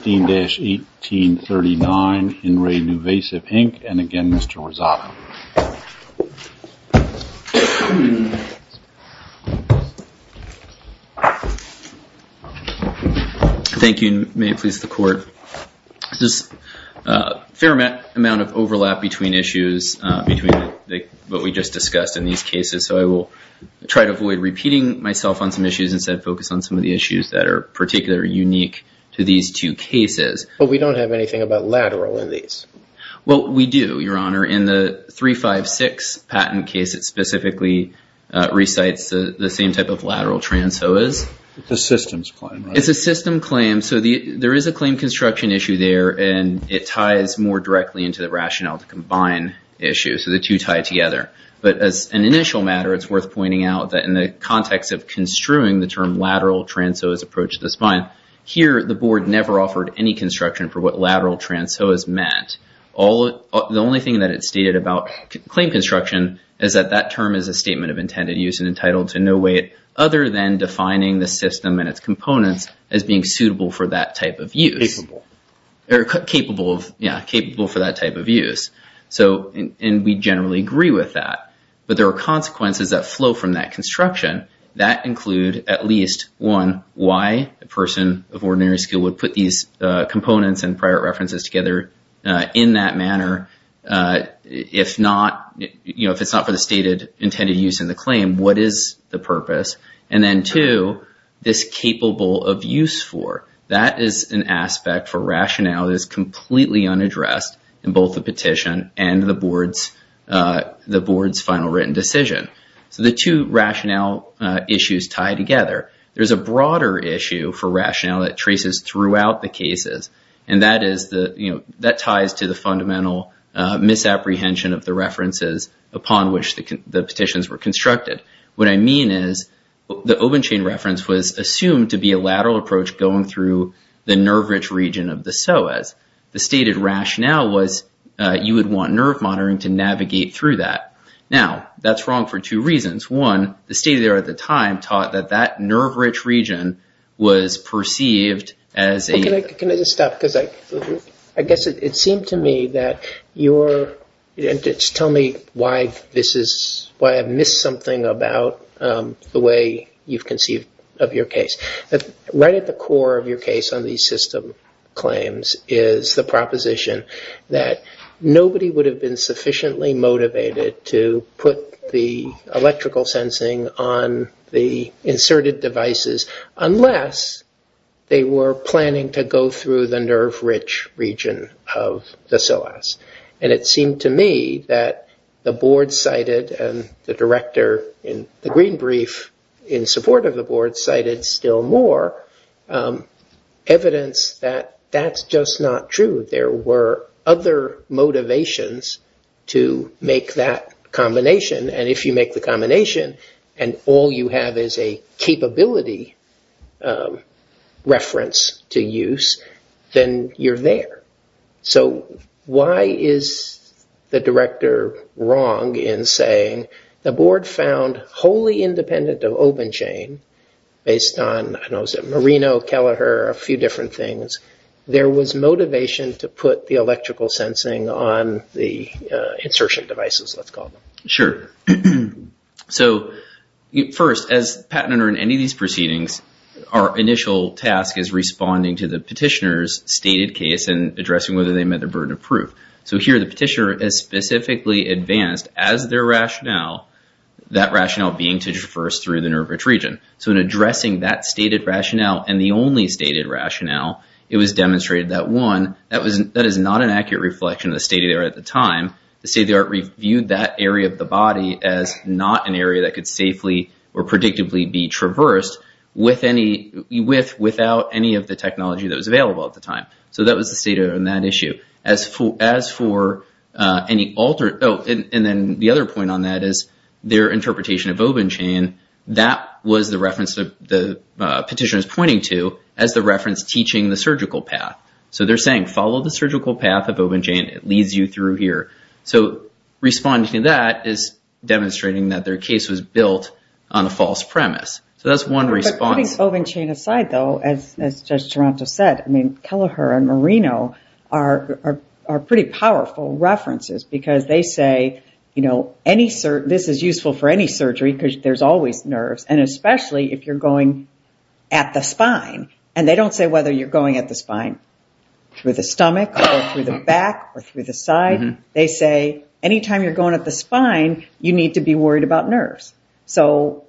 15-1839, In Re NuVasive, Inc., and again, Mr. Rosado. Thank you, and may it please the Court. There's a fair amount of overlap between issues, between what we just discussed in these cases, so I will try to avoid repeating myself on some issues and instead focus on some of the But we don't have anything about lateral in these. Well, we do, Your Honor. In the 356 patent case, it specifically recites the same type of lateral transoas. The system's claim, right? It's a system claim, so there is a claim construction issue there, and it ties more directly into the rationale to combine issues, so the two tie together. But as an initial matter, it's worth pointing out that in the context of construing the Here, the Board never offered any construction for what lateral transoas meant. The only thing that it stated about claim construction is that that term is a statement of intended use and entitled to no weight other than defining the system and its components as being suitable for that type of use. Capable. Or capable of, yeah, capable for that type of use, and we generally agree with that. But there are consequences that flow from that construction. That include, at least, one, why a person of ordinary skill would put these components and prior references together in that manner if it's not for the stated intended use in the claim. What is the purpose? And then two, this capable of use for, that is an aspect for rationale that is completely unaddressed in both the petition and the Board's final written decision. So the two rationale issues tie together. There's a broader issue for rationale that traces throughout the cases, and that ties to the fundamental misapprehension of the references upon which the petitions were constructed. What I mean is the Obenchain reference was assumed to be a lateral approach going through the nerve-rich region of the psoas. The stated rationale was you would want nerve monitoring to navigate through that. Now, that's wrong for two reasons. One, the state there at the time taught that that nerve-rich region was perceived as a- Can I just stop? Because I guess it seemed to me that you're, just tell me why this is, why I've missed something about the way you've conceived of your case. Right at the core of your case on these system claims is the proposition that nobody would have been sufficiently motivated to put the electrical sensing on the inserted devices unless they were planning to go through the nerve-rich region of the psoas. And it seemed to me that the Board cited, and the director in the Green Brief in support of the Board cited still more, evidence that that's just not true. There were other motivations to make that combination, and if you make the combination and all you have is a capability reference to use, then you're there. So why is the director wrong in saying the Board found wholly independent of Obenchain based on, I don't know, was it Marino, Kelleher, a few different things, there was motivation to put the electrical sensing on the insertion devices, let's call them. Sure. So, first, as patent under any of these proceedings, our initial task is responding to the petitioner's stated case and addressing whether they met the burden of proof. So here the petitioner is specifically advanced as their rationale, that rationale being to traverse through the nerve-rich region. So in addressing that stated rationale and the only stated rationale, it was demonstrated that one, that is not an accurate reflection of the stated error at the time, the state of the art reviewed that area of the body as not an area that could safely or predictably be traversed without any of the technology that was available at the time. So that was the stated error on that issue. As for any alter, oh, and then the other point on that is their interpretation of Obenchain, that was the reference that the petitioner is pointing to as the reference teaching the surgical path. So they're saying, follow the surgical path of Obenchain, it leads you through here. So responding to that is demonstrating that their case was built on a false premise. So that's one response. Putting Obenchain aside though, as Judge Toronto said, I mean, Kelleher and Marino are pretty powerful references because they say, you know, any, this is useful for any surgery because there's always nerves and especially if you're going at the spine and they don't say whether you're going at the spine through the stomach or through the back or through the side. They say, anytime you're going at the spine, you need to be worried about nerves. So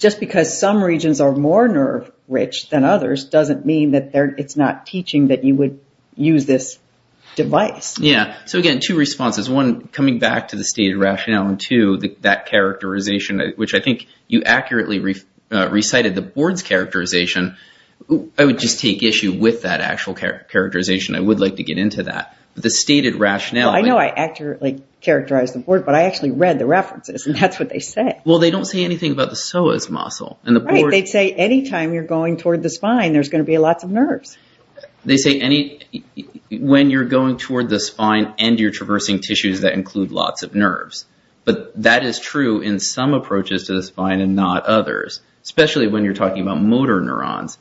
just because some regions are more nerve rich than others, doesn't mean that it's not teaching that you would use this device. Yeah. So again, two responses, one coming back to the stated rationale and two, that characterization, which I think you accurately recited the board's characterization, I would just take issue with that actual characterization. I would like to get into that, but the stated rationale. I know I accurately characterized the board, but I actually read the references and that's what they said. Well, they don't say anything about the psoas muscle and the board. They'd say anytime you're going toward the spine, there's going to be lots of nerves. They say any, when you're going toward the spine and you're traversing tissues that include lots of nerves, but that is true in some approaches to the spine and not others, especially when you're talking about motor neurons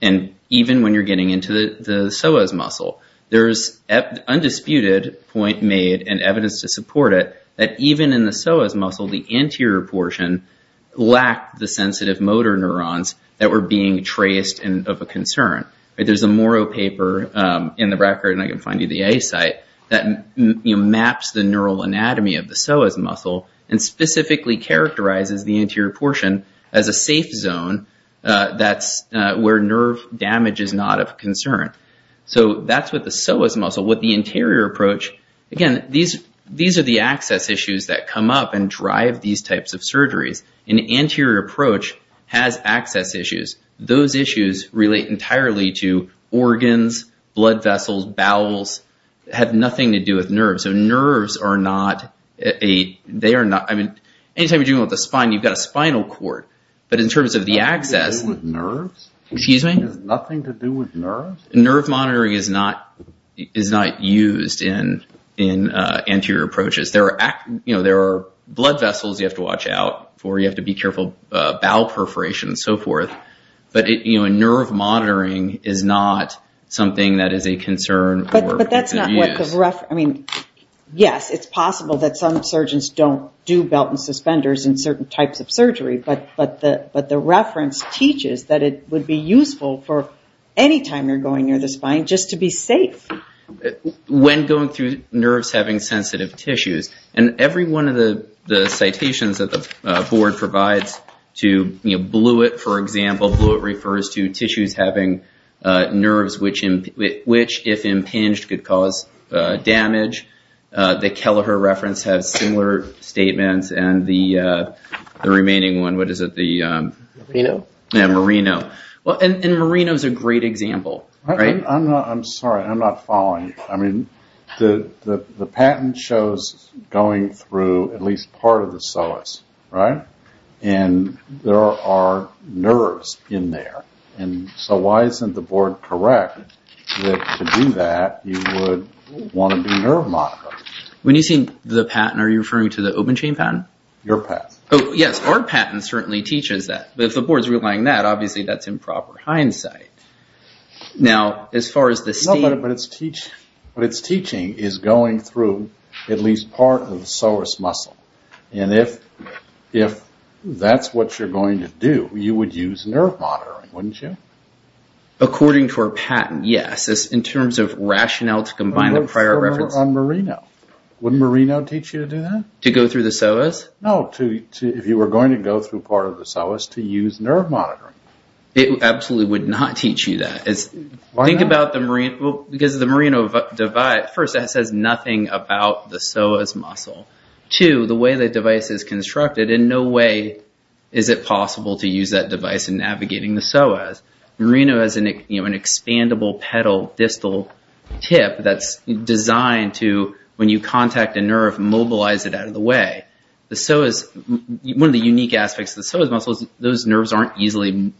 and even when you're getting into the psoas muscle, there's undisputed point made and evidence to support it, that even in the psoas muscle, the anterior portion lacked the sensitive motor neurons that were being traced and of a concern. There's a Morrow paper in the record, and I can find you the A site, that maps the neural anatomy of the psoas muscle and specifically characterizes the anterior portion as a safe zone that's where nerve damage is not of concern. So that's what the psoas muscle, what the anterior approach, again, these are the access issues that come up and drive these types of surgeries. An anterior approach has access issues. Those issues relate entirely to organs, blood vessels, bowels, have nothing to do with nerves. So nerves are not a, they are not, I mean, anytime you're dealing with the spine, you've got a spinal cord, but in terms of the access, excuse me, nerve monitoring is not, is not used in, in anterior approaches. There are, you know, there are blood vessels you have to watch out for, you have to be careful bowel perforation and so forth, but it, you know, a nerve monitoring is not something that is a concern. But, but that's not what the reference, I mean, yes, it's possible that some surgeons don't do belt and suspenders in certain types of surgery, but, but the, but the reference teaches that it would be useful for anytime you're going near the spine just to be safe. When going through nerves having sensitive tissues, and every one of the, the citations that the board provides to, you know, Blewett, for example, Blewett refers to tissues having nerves, which, which if impinged could cause damage. The Kelleher reference has similar statements and the, the remaining one, what is it, the Marino? Yeah, Marino. Well, and Marino is a great example, right? I'm not, I'm sorry, I'm not following you, I mean, the, the, the patent shows going through at least part of the psoas, right, and there are nerves in there, and so why isn't the board correct that to do that you would want to do nerve monitoring? When you say the patent, are you referring to the open chain patent? Your patent. Oh, yes, our patent certainly teaches that, but if the board is relying on that, obviously that's improper hindsight. Now, as far as the state... No, but it's teaching, but it's teaching is going through at least part of the psoas muscle, and if, if that's what you're going to do, you would use nerve monitoring, wouldn't you? According to our patent, yes, it's in terms of rationale to combine the prior reference... On Marino, wouldn't Marino teach you to do that? To go through the psoas? No, to, to, if you were going to go through part of the psoas, to use nerve monitoring. It absolutely would not teach you that. Think about the Marino, because the Marino device, first, it says nothing about the psoas muscle. Two, the way the device is constructed, in no way is it possible to use that device in navigating the psoas. Marino has an, you know, an expandable pedal distal tip that's designed to, when you contact a nerve, mobilize it out of the way. The psoas, one of the unique aspects of the psoas muscle is those nerves aren't easily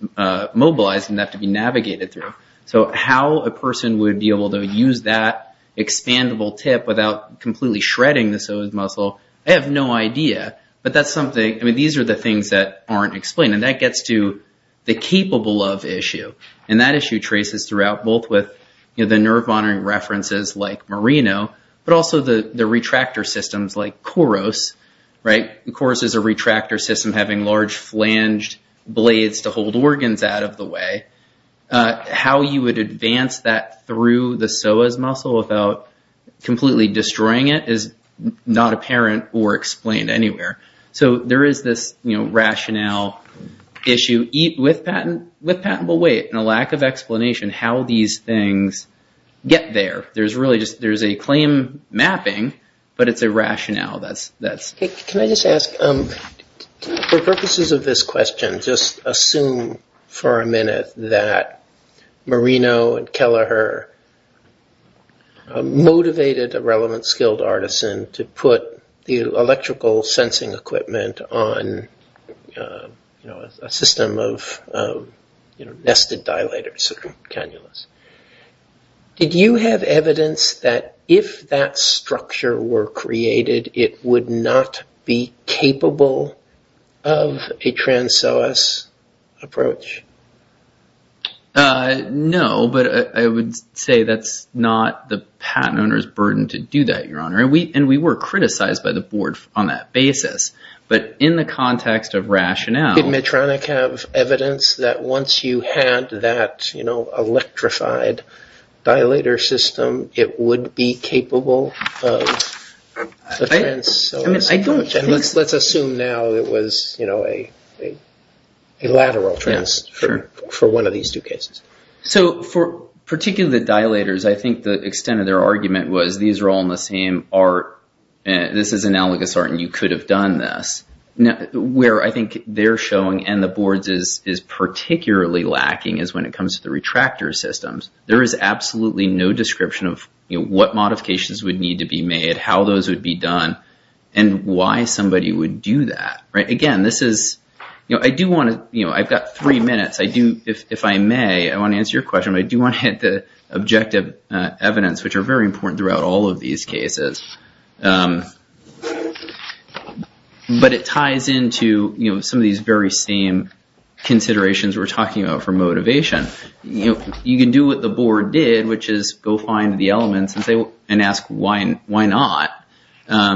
mobilized, and they have to be navigated through. So how a person would be able to use that expandable tip without completely shredding the psoas muscle, I have no idea. But that's something, I mean, these are the things that aren't explained, and that gets to the capable of issue, and that issue traces throughout, both with, you know, the nerve monitoring references like Marino, but also the retractor systems like KOROS, right? KOROS is a retractor system having large flanged blades to hold organs out of the way. How you would advance that through the psoas muscle without completely destroying it is not apparent or explained anywhere. So there is this, you know, rationale issue, with patentable weight, and a lack of explanation how these things get there. There's really just, there's a claim mapping, but it's a rationale that's... Can I just ask, for purposes of this question, just assume for a minute that Marino and Kelleher motivated a relevant skilled artisan to put the electrical sensing equipment on a system of, you know, nested dilators, cannulas. Did you have evidence that if that structure were created, it would not be capable of a trans-psoas approach? No, but I would say that's not the patent owner's burden to do that, Your Honor. And we were criticized by the board on that basis. But in the context of rationale... Did Kronik have evidence that once you had that, you know, electrified dilator system, it would be capable of a trans-psoas approach? Let's assume now it was, you know, a lateral transfer for one of these two cases. So for particularly the dilators, I think the extent of their argument was these are all in the same art, and this is analogous art, and you could have done this. Where I think they're showing and the board's is particularly lacking is when it comes to the retractor systems. There is absolutely no description of what modifications would need to be made, how those would be done, and why somebody would do that. Right? Again, this is... You know, I do want to... You know, I've got three minutes. I do... If I may, I want to answer your question, but I do want to hit the objective evidence, which are very important throughout all of these cases. But it ties into, you know, some of these very same considerations we're talking about for motivation. You know, you can do what the board did, which is go find the elements and ask why not. There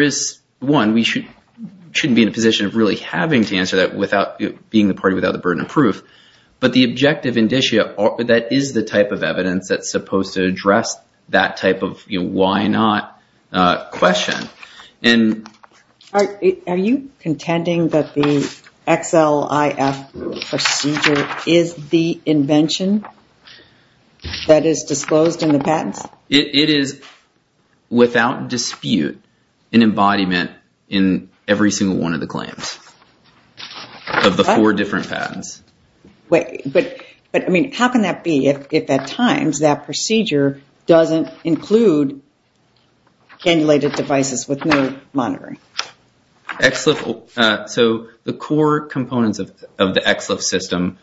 is one. We shouldn't be in a position of really having to answer that without being the party without the burden of proof, but the objective indicia, that is the type of evidence that's supposed to address that type of, you know, why not question. And... Are you contending that the XLIF procedure is the invention that is disclosed in the patents? It is, without dispute, an embodiment in every single one of the claims of the four different patents. But, I mean, how can that be if at times that procedure doesn't include cannulated devices with no monitoring? XLIF... So, the core components of the XLIF system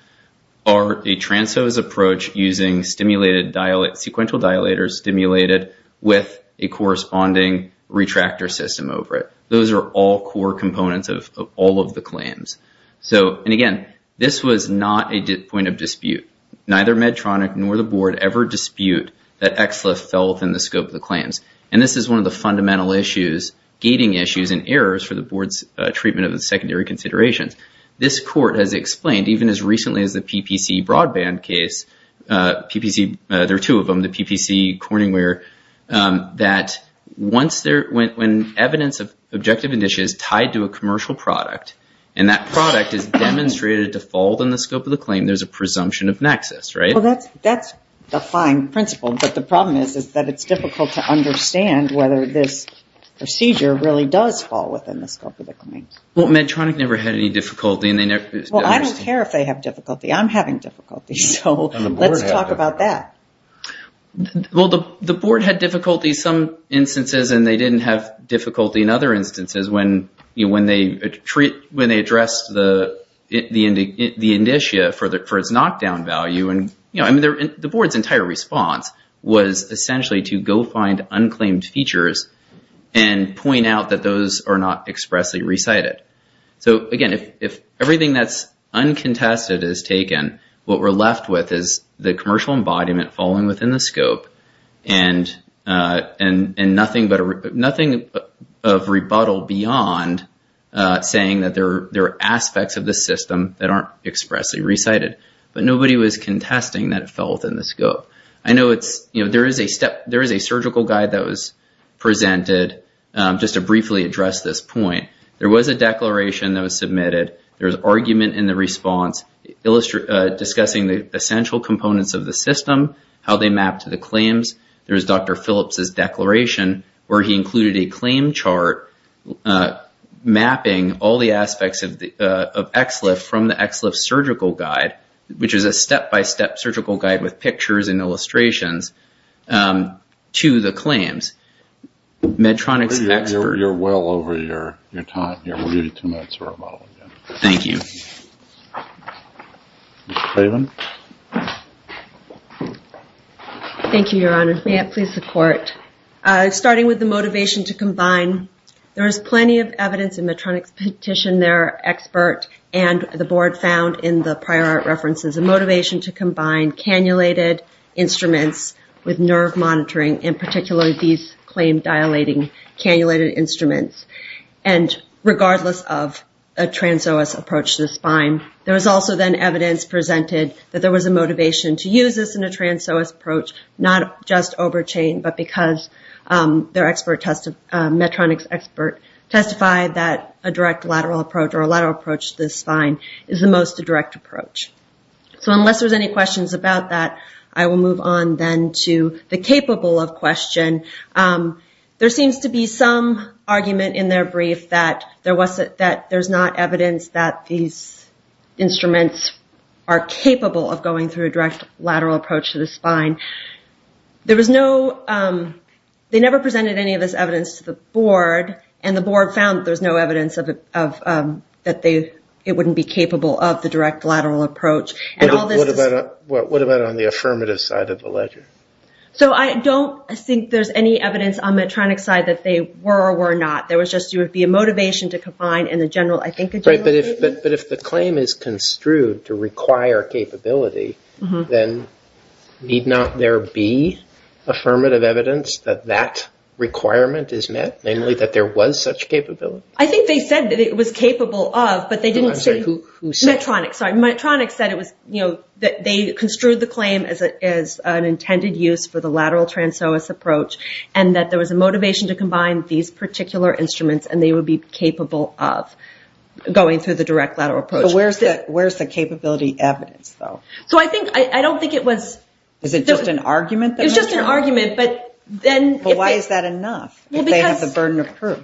are a trans-hose approach using stimulated dilate... Sequential dilators stimulated with a corresponding retractor system over it. Those are all core components of all of the claims. So, and again, this was not a point of dispute, neither Medtronic nor the board ever dispute that XLIF fell within the scope of the claims. And this is one of the fundamental issues, gating issues and errors for the board's treatment of the secondary considerations. This court has explained, even as recently as the PPC broadband case, PPC... There are two of them, the PPC Corningware, that once there... When evidence of objective initiative is tied to a commercial product, and that product is demonstrated to fall within the scope of the claim, there's a presumption of nexus, right? Well, that's a fine principle, but the problem is that it's difficult to understand whether this procedure really does fall within the scope of the claims. Well, Medtronic never had any difficulty and they never... Well, I don't care if they have difficulty. I'm having difficulty, so let's talk about that. Well, the board had difficulty some instances and they didn't have difficulty in other instances when they addressed the initia for its knockdown value. And the board's entire response was essentially to go find unclaimed features and point out that those are not expressly recited. So again, if everything that's uncontested is taken, what we're left with is the commercial embodiment falling within the scope and nothing of rebuttal beyond saying that there are aspects of the system that aren't expressly recited, but nobody was contesting that it fell within the scope. I know there is a surgical guide that was presented just to briefly address this point. There was a declaration that was submitted, there was argument in the response discussing the essential components of the system, how they map to the claims. There's Dr. Phillips' declaration where he included a claim chart mapping all the aspects of XLIF from the XLIF surgical guide, which is a step-by-step surgical guide with pictures and illustrations to the claims. Medtronic's expert... You're well over your time here. We'll give you two minutes for rebuttal. Thank you. Mr. Craven? Thank you, Your Honor. May it please the court. Starting with the motivation to combine, there is plenty of evidence in Medtronic's petition there, expert and the board found in the prior art references, a motivation to combine cannulated instruments with nerve monitoring, and particularly these claim dilating cannulated instruments. And regardless of a trans-OS approach to the spine, there was also then evidence presented that there was a motivation to use this in a trans-OS approach, not just overchain, but because Medtronic's expert testified that a direct lateral approach or a lateral approach to the spine is the most direct approach. So unless there's any questions about that, I will move on then to the capable of question. There seems to be some argument in their brief that there's not evidence that these instruments are capable of going through a direct lateral approach to the spine. There was no... They never presented any of this evidence to the board, and the board found there's no evidence that it wouldn't be capable of the direct lateral approach. What about on the affirmative side of the ledger? So I don't... I don't think there's any evidence on Medtronic's side that they were or were not. There was just... There would be a motivation to combine in the general... I think a general... Right, but if the claim is construed to require capability, then need not there be affirmative evidence that that requirement is met, namely that there was such capability? I think they said that it was capable of, but they didn't say... I'm sorry, who said? Medtronic. Sorry. Medtronic said it was... They construed the claim as an intended use for the lateral trans oas approach, and that there was a motivation to combine these particular instruments and they would be capable of going through the direct lateral approach. Where's the capability evidence, though? So I think... I don't think it was... Is it just an argument that Medtronic... It was just an argument, but then... Why is that enough, if they have the burden of proof?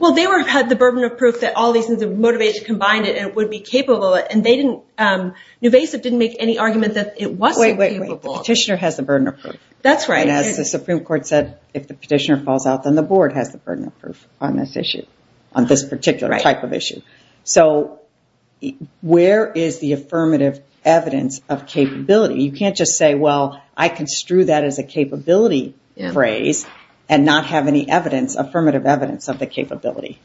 Well they were... Had the burden of proof that all these... They had the motivation to combine it and it would be capable, and they didn't... Nuvasiv didn't make any argument that it wasn't capable. Wait, wait, wait. The petitioner has the burden of proof. That's right. And as the Supreme Court said, if the petitioner falls out, then the board has the burden of proof on this issue, on this particular type of issue. So where is the affirmative evidence of capability? You can't just say, well, I construed that as a capability phrase and not have any evidence, affirmative evidence of the capability.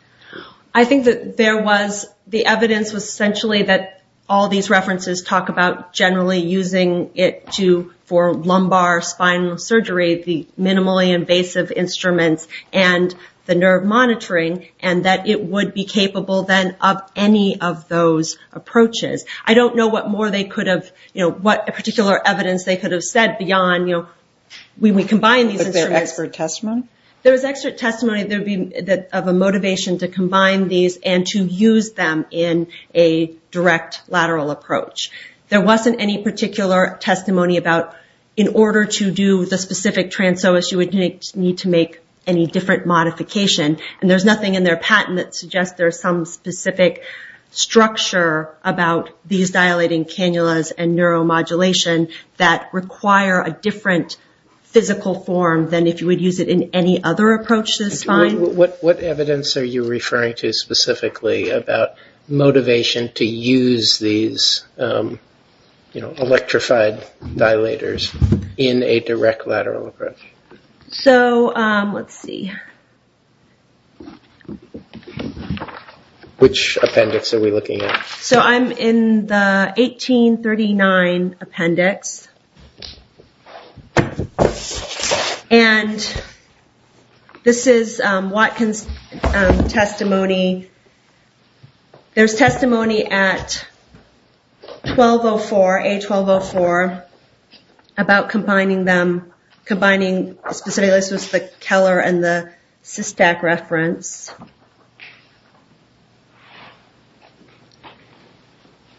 I think that there was... The evidence was essentially that all these references talk about generally using it to... For lumbar spinal surgery, the minimally invasive instruments and the nerve monitoring, and that it would be capable then of any of those approaches. I don't know what more they could have... What particular evidence they could have said beyond, you know, when we combine these instruments... Was there expert testimony? There was expert testimony. There would be of a motivation to combine these and to use them in a direct lateral approach. There wasn't any particular testimony about, in order to do the specific trans-OS, you would need to make any different modification. And there's nothing in their patent that suggests there's some specific structure about these dilating cannulas and neuromodulation that require a different physical form than if you would use it in any other approach to the spine. What evidence are you referring to specifically about motivation to use these, you know, electrified dilators in a direct lateral approach? So let's see. Which appendix are we looking at? So I'm in the 1839 appendix. And this is Watkins' testimony. There's testimony at 1204, A1204, about combining them, combining specifically, this was the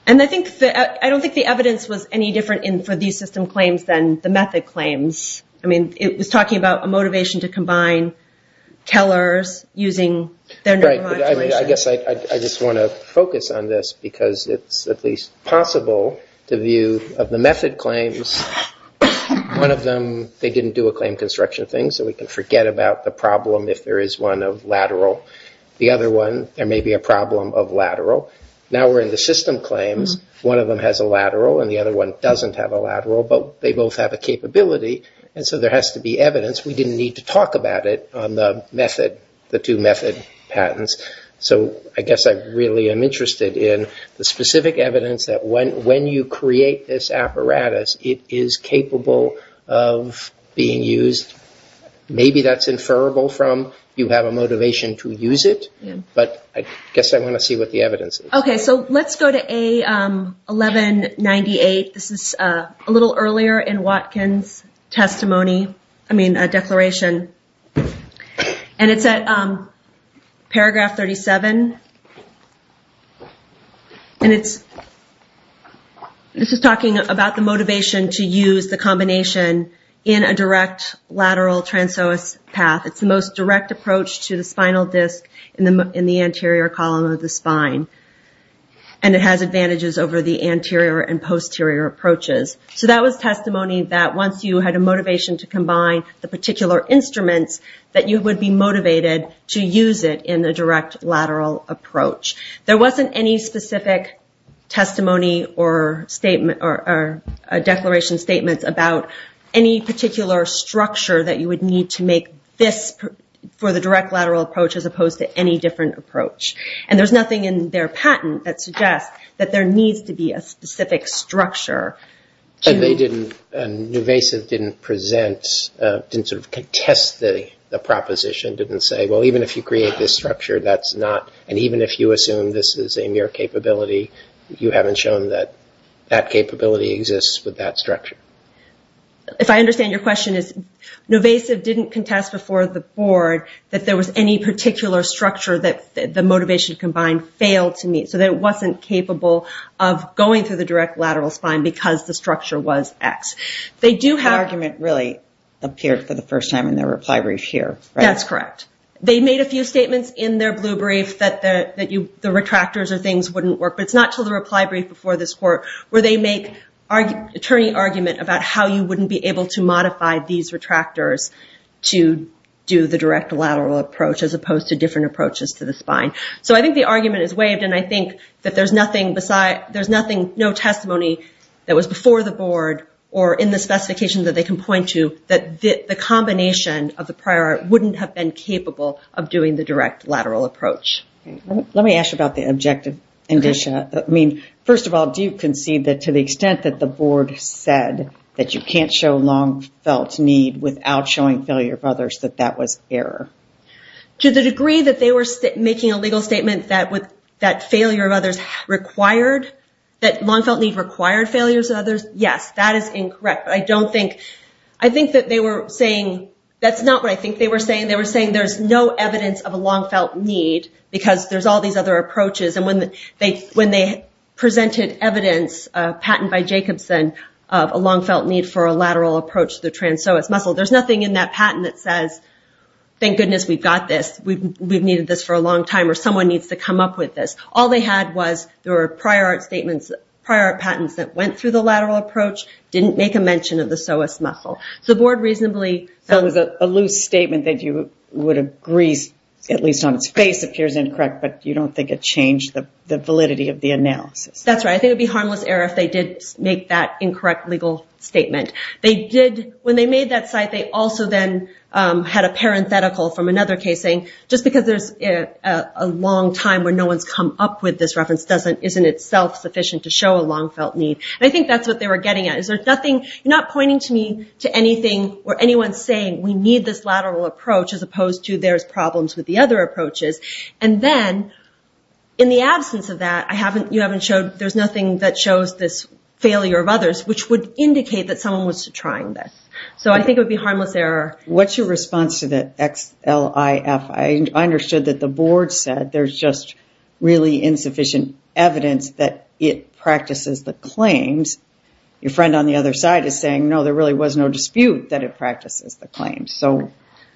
And I don't think the evidence was any different for these system claims than the method claims. I mean, it was talking about a motivation to combine tellers using their neuromodulation. Right. I mean, I guess I just want to focus on this because it's at least possible to view of the method claims, one of them, they didn't do a claim construction thing, so we can forget about the problem if there is one of lateral. The other one, there may be a problem of lateral. Now we're in the system claims. One of them has a lateral and the other one doesn't have a lateral, but they both have a capability, and so there has to be evidence. We didn't need to talk about it on the method, the two method patents. So I guess I really am interested in the specific evidence that when you create this apparatus, it is capable of being used. Maybe that's inferrable from you have a motivation to use it, but I guess I want to see what the evidence is. Okay. So let's go to A1198. This is a little earlier in Watkins' testimony, I mean, declaration. And it's at paragraph 37, and this is talking about the motivation to use the combination in a direct lateral transoas path. It's the most direct approach to the spinal disc in the anterior column of the spine, and it has advantages over the anterior and posterior approaches. So that was testimony that once you had a motivation to combine the particular instruments that you would be motivated to use it in a direct lateral approach. There wasn't any specific testimony or declaration statements about any particular structure that you would need to make this for the direct lateral approach as opposed to any different approach. And there's nothing in their patent that suggests that there needs to be a specific structure. And they didn't, and Nuvesis didn't present, didn't sort of contest the proposition, didn't say, well, even if you create this structure, that's not, and even if you assume this is a mere capability, you haven't shown that that capability exists with that structure. If I understand your question, Nuvesis didn't contest before the board that there was any particular structure that the motivation combined failed to meet, so that it wasn't capable of going through the direct lateral spine because the structure was X. They do have- The argument really appeared for the first time in their reply brief here, right? That's correct. They made a few statements in their blue brief that the retractors or things wouldn't work, but it's not until the reply brief before this court where they make attorney argument about how you wouldn't be able to modify these retractors to do the direct lateral approach as opposed to different approaches to the spine. So I think the argument is waived and I think that there's nothing beside, there's nothing, no testimony that was before the board or in the specification that they can point to that the combination of the prior wouldn't have been capable of doing the direct lateral approach. Let me ask you about the objective indicia. First of all, do you concede that to the extent that the board said that you can't show long felt need without showing failure of others, that that was error? To the degree that they were making a legal statement that failure of others required, that long felt need required failures of others, yes, that is incorrect. I don't think, I think that they were saying, that's not what I think they were saying. They were saying there's no evidence of a long felt need because there's all these other approaches and when they presented evidence, a patent by Jacobson of a long felt need for a lateral approach to the trans psoas muscle, there's nothing in that patent that says, thank goodness we've got this, we've needed this for a long time or someone needs to come up with this. All they had was, there were prior art statements, prior art patents that went through the lateral approach, didn't make a mention of the psoas muscle. The board reasonably... That was a loose statement that you would agree, at least on its face, appears incorrect, but you don't think it changed the validity of the analysis? That's right. I think it would be harmless error if they did make that incorrect legal statement. They did, when they made that site, they also then had a parenthetical from another case saying, just because there's a long time where no one's come up with this reference, isn't itself sufficient to show a long felt need. I think that's what they were getting at. You're not pointing to me to anything or anyone saying, we need this lateral approach as opposed to there's problems with the other approaches. And then in the absence of that, you haven't showed, there's nothing that shows this failure of others, which would indicate that someone was trying this. So I think it would be harmless error. What's your response to the XLIF? I understood that the board said there's just really insufficient evidence that it practices the claims. Your friend on the other side is saying, no, there really was no dispute that it practices the claims. So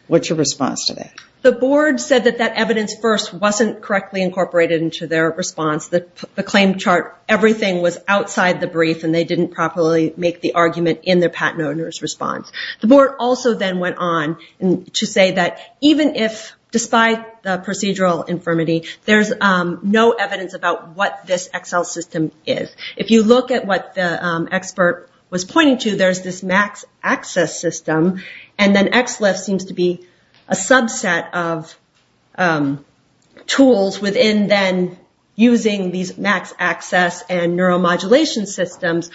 what's your response to that? The board said that that evidence first wasn't correctly incorporated into their response. The claim chart, everything was outside the brief and they didn't properly make the argument in their patent owner's response. The board also then went on to say that even if, despite the procedural infirmity, there's no evidence about what this Excel system is. If you look at what the expert was pointing to, there's this max access system. And then XLIF seems to be a subset of tools within then using these max access and neuromodulation systems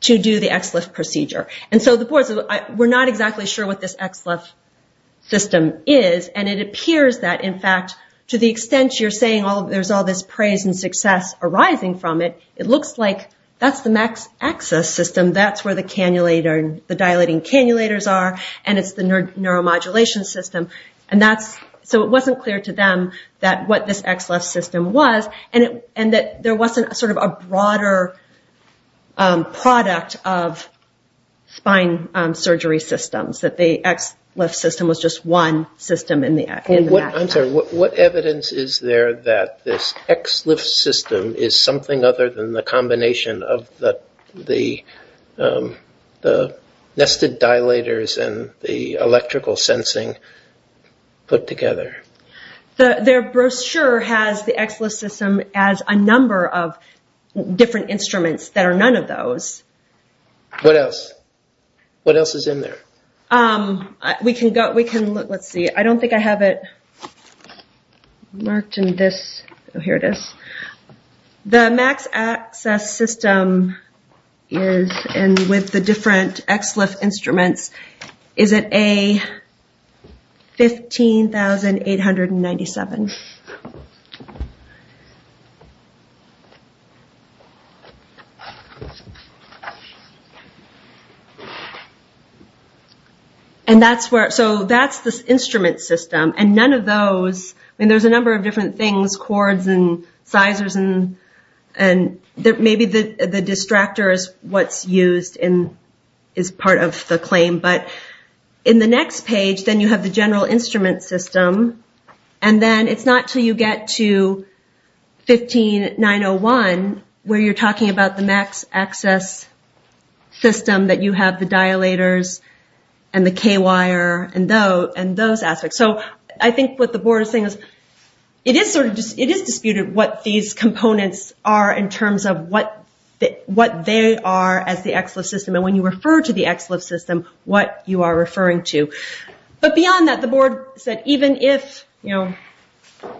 to do the XLIF procedure. And so the board said, we're not exactly sure what this XLIF system is. And it appears that, in fact, to the extent you're saying there's all this praise and it looks like that's the max access system. That's where the dilating cannulators are and it's the neuromodulation system. And so it wasn't clear to them that what this XLIF system was and that there wasn't sort of a broader product of spine surgery systems, that the XLIF system was just one system in the max. I'm sorry, what evidence is there that this XLIF system is something other than the combination of the nested dilators and the electrical sensing put together? Their brochure has the XLIF system as a number of different instruments that are none of those. What else? What else is in there? We can look. Let's see. I don't think I have it marked in this. Oh, here it is. The max access system is, and with the different XLIF instruments, is it a 15,897. And that's where, so that's the instrument system and none of those, I mean, there's a number of different things, cords and sizers and maybe the distractor is what's used and is part of the claim, but in the next page, then you have the general instrument system and then it's not until you get to 15,901 where you're talking about the max access system that you have the dilators and the K wire and those aspects. I think what the board is saying is, it is disputed what these components are in terms of what they are as the XLIF system and when you refer to the XLIF system, what you are referring to. But beyond that, the board said, even if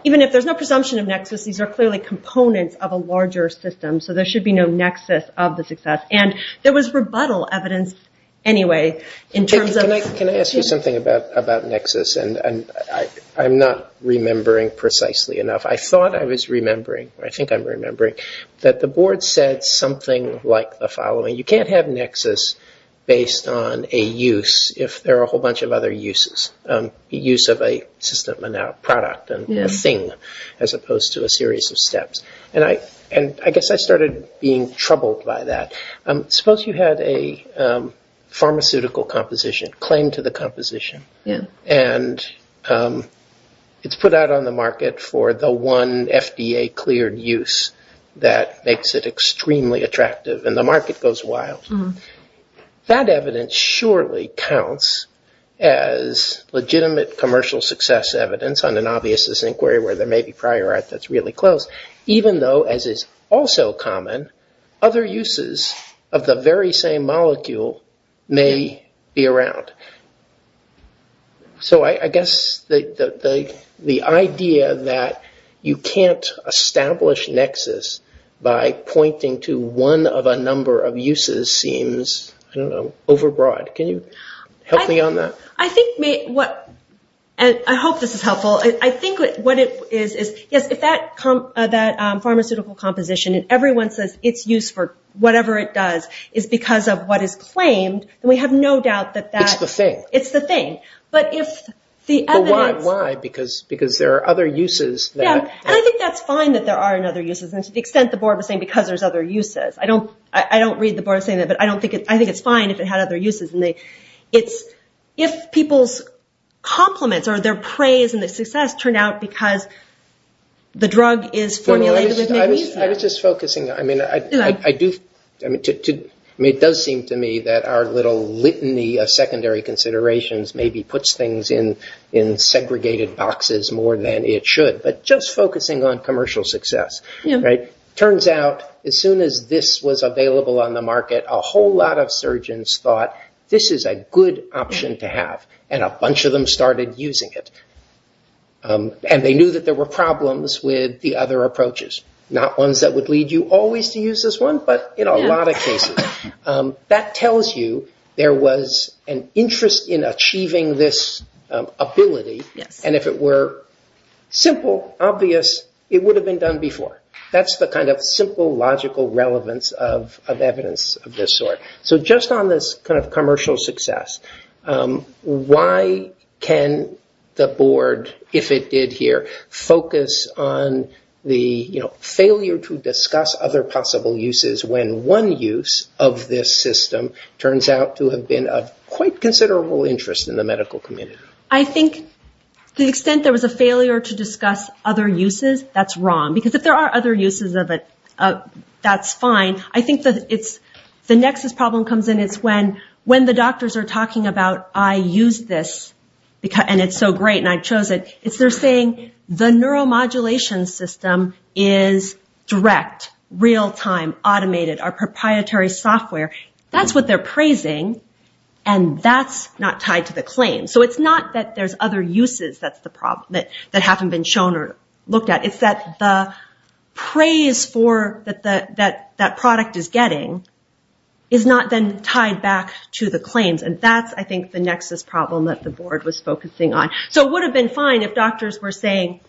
there's no presumption of nexus, these are clearly components of a larger system, so there should be no nexus of the success. And there was rebuttal evidence anyway in terms of... Can I ask you something about nexus? I'm not remembering precisely enough. I thought I was remembering, or I think I'm remembering, that the board said something like the following. You can't have nexus based on a use if there are a whole bunch of other uses. Use of a system and now a product and a thing as opposed to a series of steps. And I guess I started being troubled by that. Suppose you had a pharmaceutical composition, claim to the composition, and it's put out on the market for the one FDA cleared use that makes it extremely attractive and the rest is wild. That evidence surely counts as legitimate commercial success evidence on an obvious inquiry where there may be prior art that's really close, even though, as is also common, other uses of the very same molecule may be around. So I guess the idea that you can't establish nexus by pointing to one of a number of uses, seems, I don't know, overbroad. Can you help me on that? I think what... I hope this is helpful. I think what it is, is if that pharmaceutical composition and everyone says it's used for whatever it does is because of what is claimed, then we have no doubt that that's... It's the thing. It's the thing. But if the evidence... But why? Why? Because there are other uses that... Yeah. And I think that's fine that there are other uses. And to the extent the board was saying because there's other uses. I don't read the board saying that, but I think it's fine if it had other uses. If people's compliments or their praise and their success turned out because the drug is formulated with... I was just focusing. Yeah. I mean, it does seem to me that our little litany of secondary considerations maybe puts things in segregated boxes more than it should, but just focusing on commercial success. Turns out, as soon as this was available on the market, a whole lot of surgeons thought this is a good option to have, and a bunch of them started using it. And they knew that there were problems with the other approaches. Not ones that would lead you always to use this one, but in a lot of cases. That tells you there was an interest in achieving this ability, and if it were simple, obvious, it would have been done before. That's the kind of simple, logical relevance of evidence of this sort. So just on this commercial success, why can the board, if it did here, focus on the failure to discuss other possible uses when one use of this system turns out to have been of quite considerable interest in the medical community? I think to the extent there was a failure to discuss other uses, that's wrong. Because if there are other uses of it, that's fine. I think the nexus problem comes in, it's when the doctors are talking about, I use this, and it's so great, and I chose it, it's they're saying the neuromodulation system is direct, real-time, automated, our proprietary software. That's what they're praising, and that's not tied to the claim. So it's not that there's other uses that haven't been shown or looked at. It's that the praise that that product is getting is not then tied back to the claims, and that's, I think, the nexus problem that the board was focusing on. So it would have been fine if doctors were saying,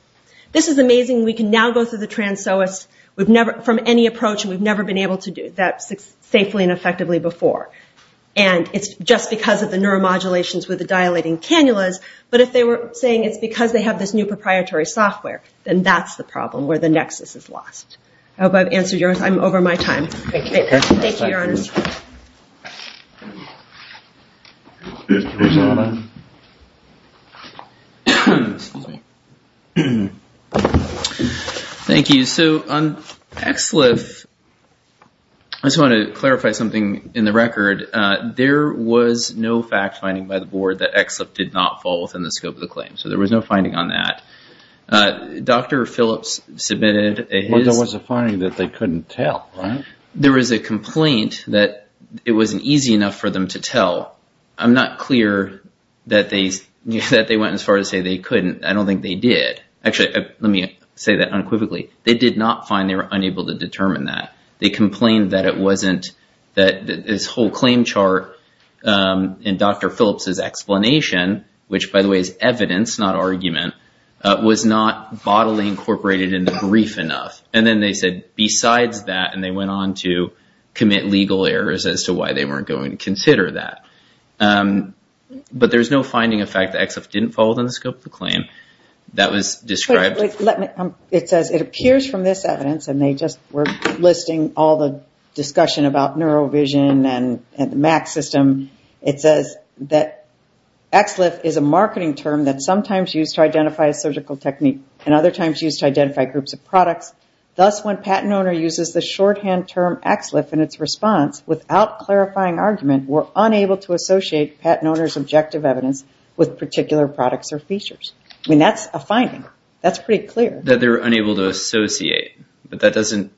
this is amazing, we can now go through the trans-SOAS from any approach, and we've never been able to do that safely and effectively before. And it's just because of the neuromodulations with the dilating cannulas, but if they were saying it's because they have this new proprietary software, then that's the problem where the nexus is lost. I hope I've answered yours. I'm over my time. Thank you, Your Honor. Thank you. So on ExLIF, I just want to clarify something in the record. There was no fact-finding by the board that ExLIF did not fall within the scope of the claim. So there was no finding on that. Dr. Phillips submitted his... Well, there was a finding that they couldn't tell, right? There was a complaint that it wasn't easy enough for them to tell. I'm not clear that they went as far as to say they couldn't. I don't think they did. Actually, let me say that unequivocally. They did not find they were unable to determine that. They complained that this whole claim chart in Dr. Phillips' explanation, which by the way is evidence, not argument, was not bodily incorporated in the brief enough. And then they said, besides that, and they went on to commit legal errors as to why they weren't going to consider that. But there's no finding of fact that ExLIF didn't fall within the scope of the claim. That was described... It says, it appears from this evidence, and they just were listing all the discussion about neurovision and the MAC system. It says that ExLIF is a marketing term that's sometimes used to identify a surgical technique and other times used to identify groups of products, thus when patent owner uses the shorthand term ExLIF in its response, without clarifying argument, were unable to associate patent owner's objective evidence with particular products or features. I mean, that's a finding. That's pretty clear. That they're unable to associate, but that doesn't...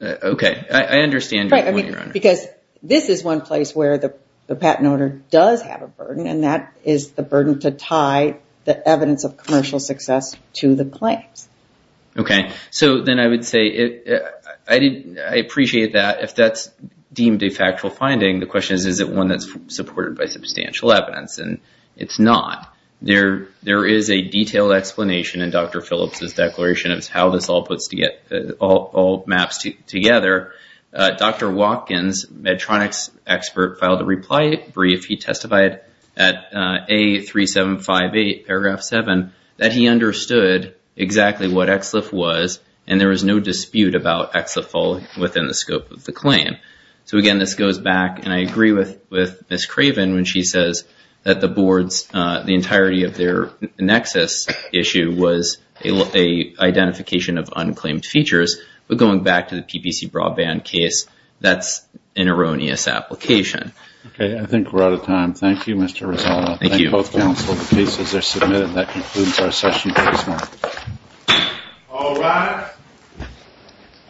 Okay. I understand your point, Your Honor. Because this is one place where the patent owner does have a burden, and that is the burden to tie the evidence of commercial success to the claims. Okay. So then I would say, I appreciate that. If that's deemed a factual finding, the question is, is it one that's supported by substantial evidence? And it's not. There is a detailed explanation in Dr. Phillips' declaration. It's how this all maps together. Dr. Watkins, Medtronic's expert, filed a reply brief. He testified at A3758, paragraph seven, that he understood exactly what ExLIF was, and there was no dispute about ExLIF falling within the scope of the claim. So again, this goes back, and I agree with Ms. Craven when she says that the board's, the entirety of their nexus issue was a identification of unclaimed features. But going back to the PPC Broadband case, that's an erroneous application. Okay. I think we're out of time. Thank you, Mr. Rezano. Thank you. Thank both counsel. The cases are submitted. That concludes our session for this morning. All rise.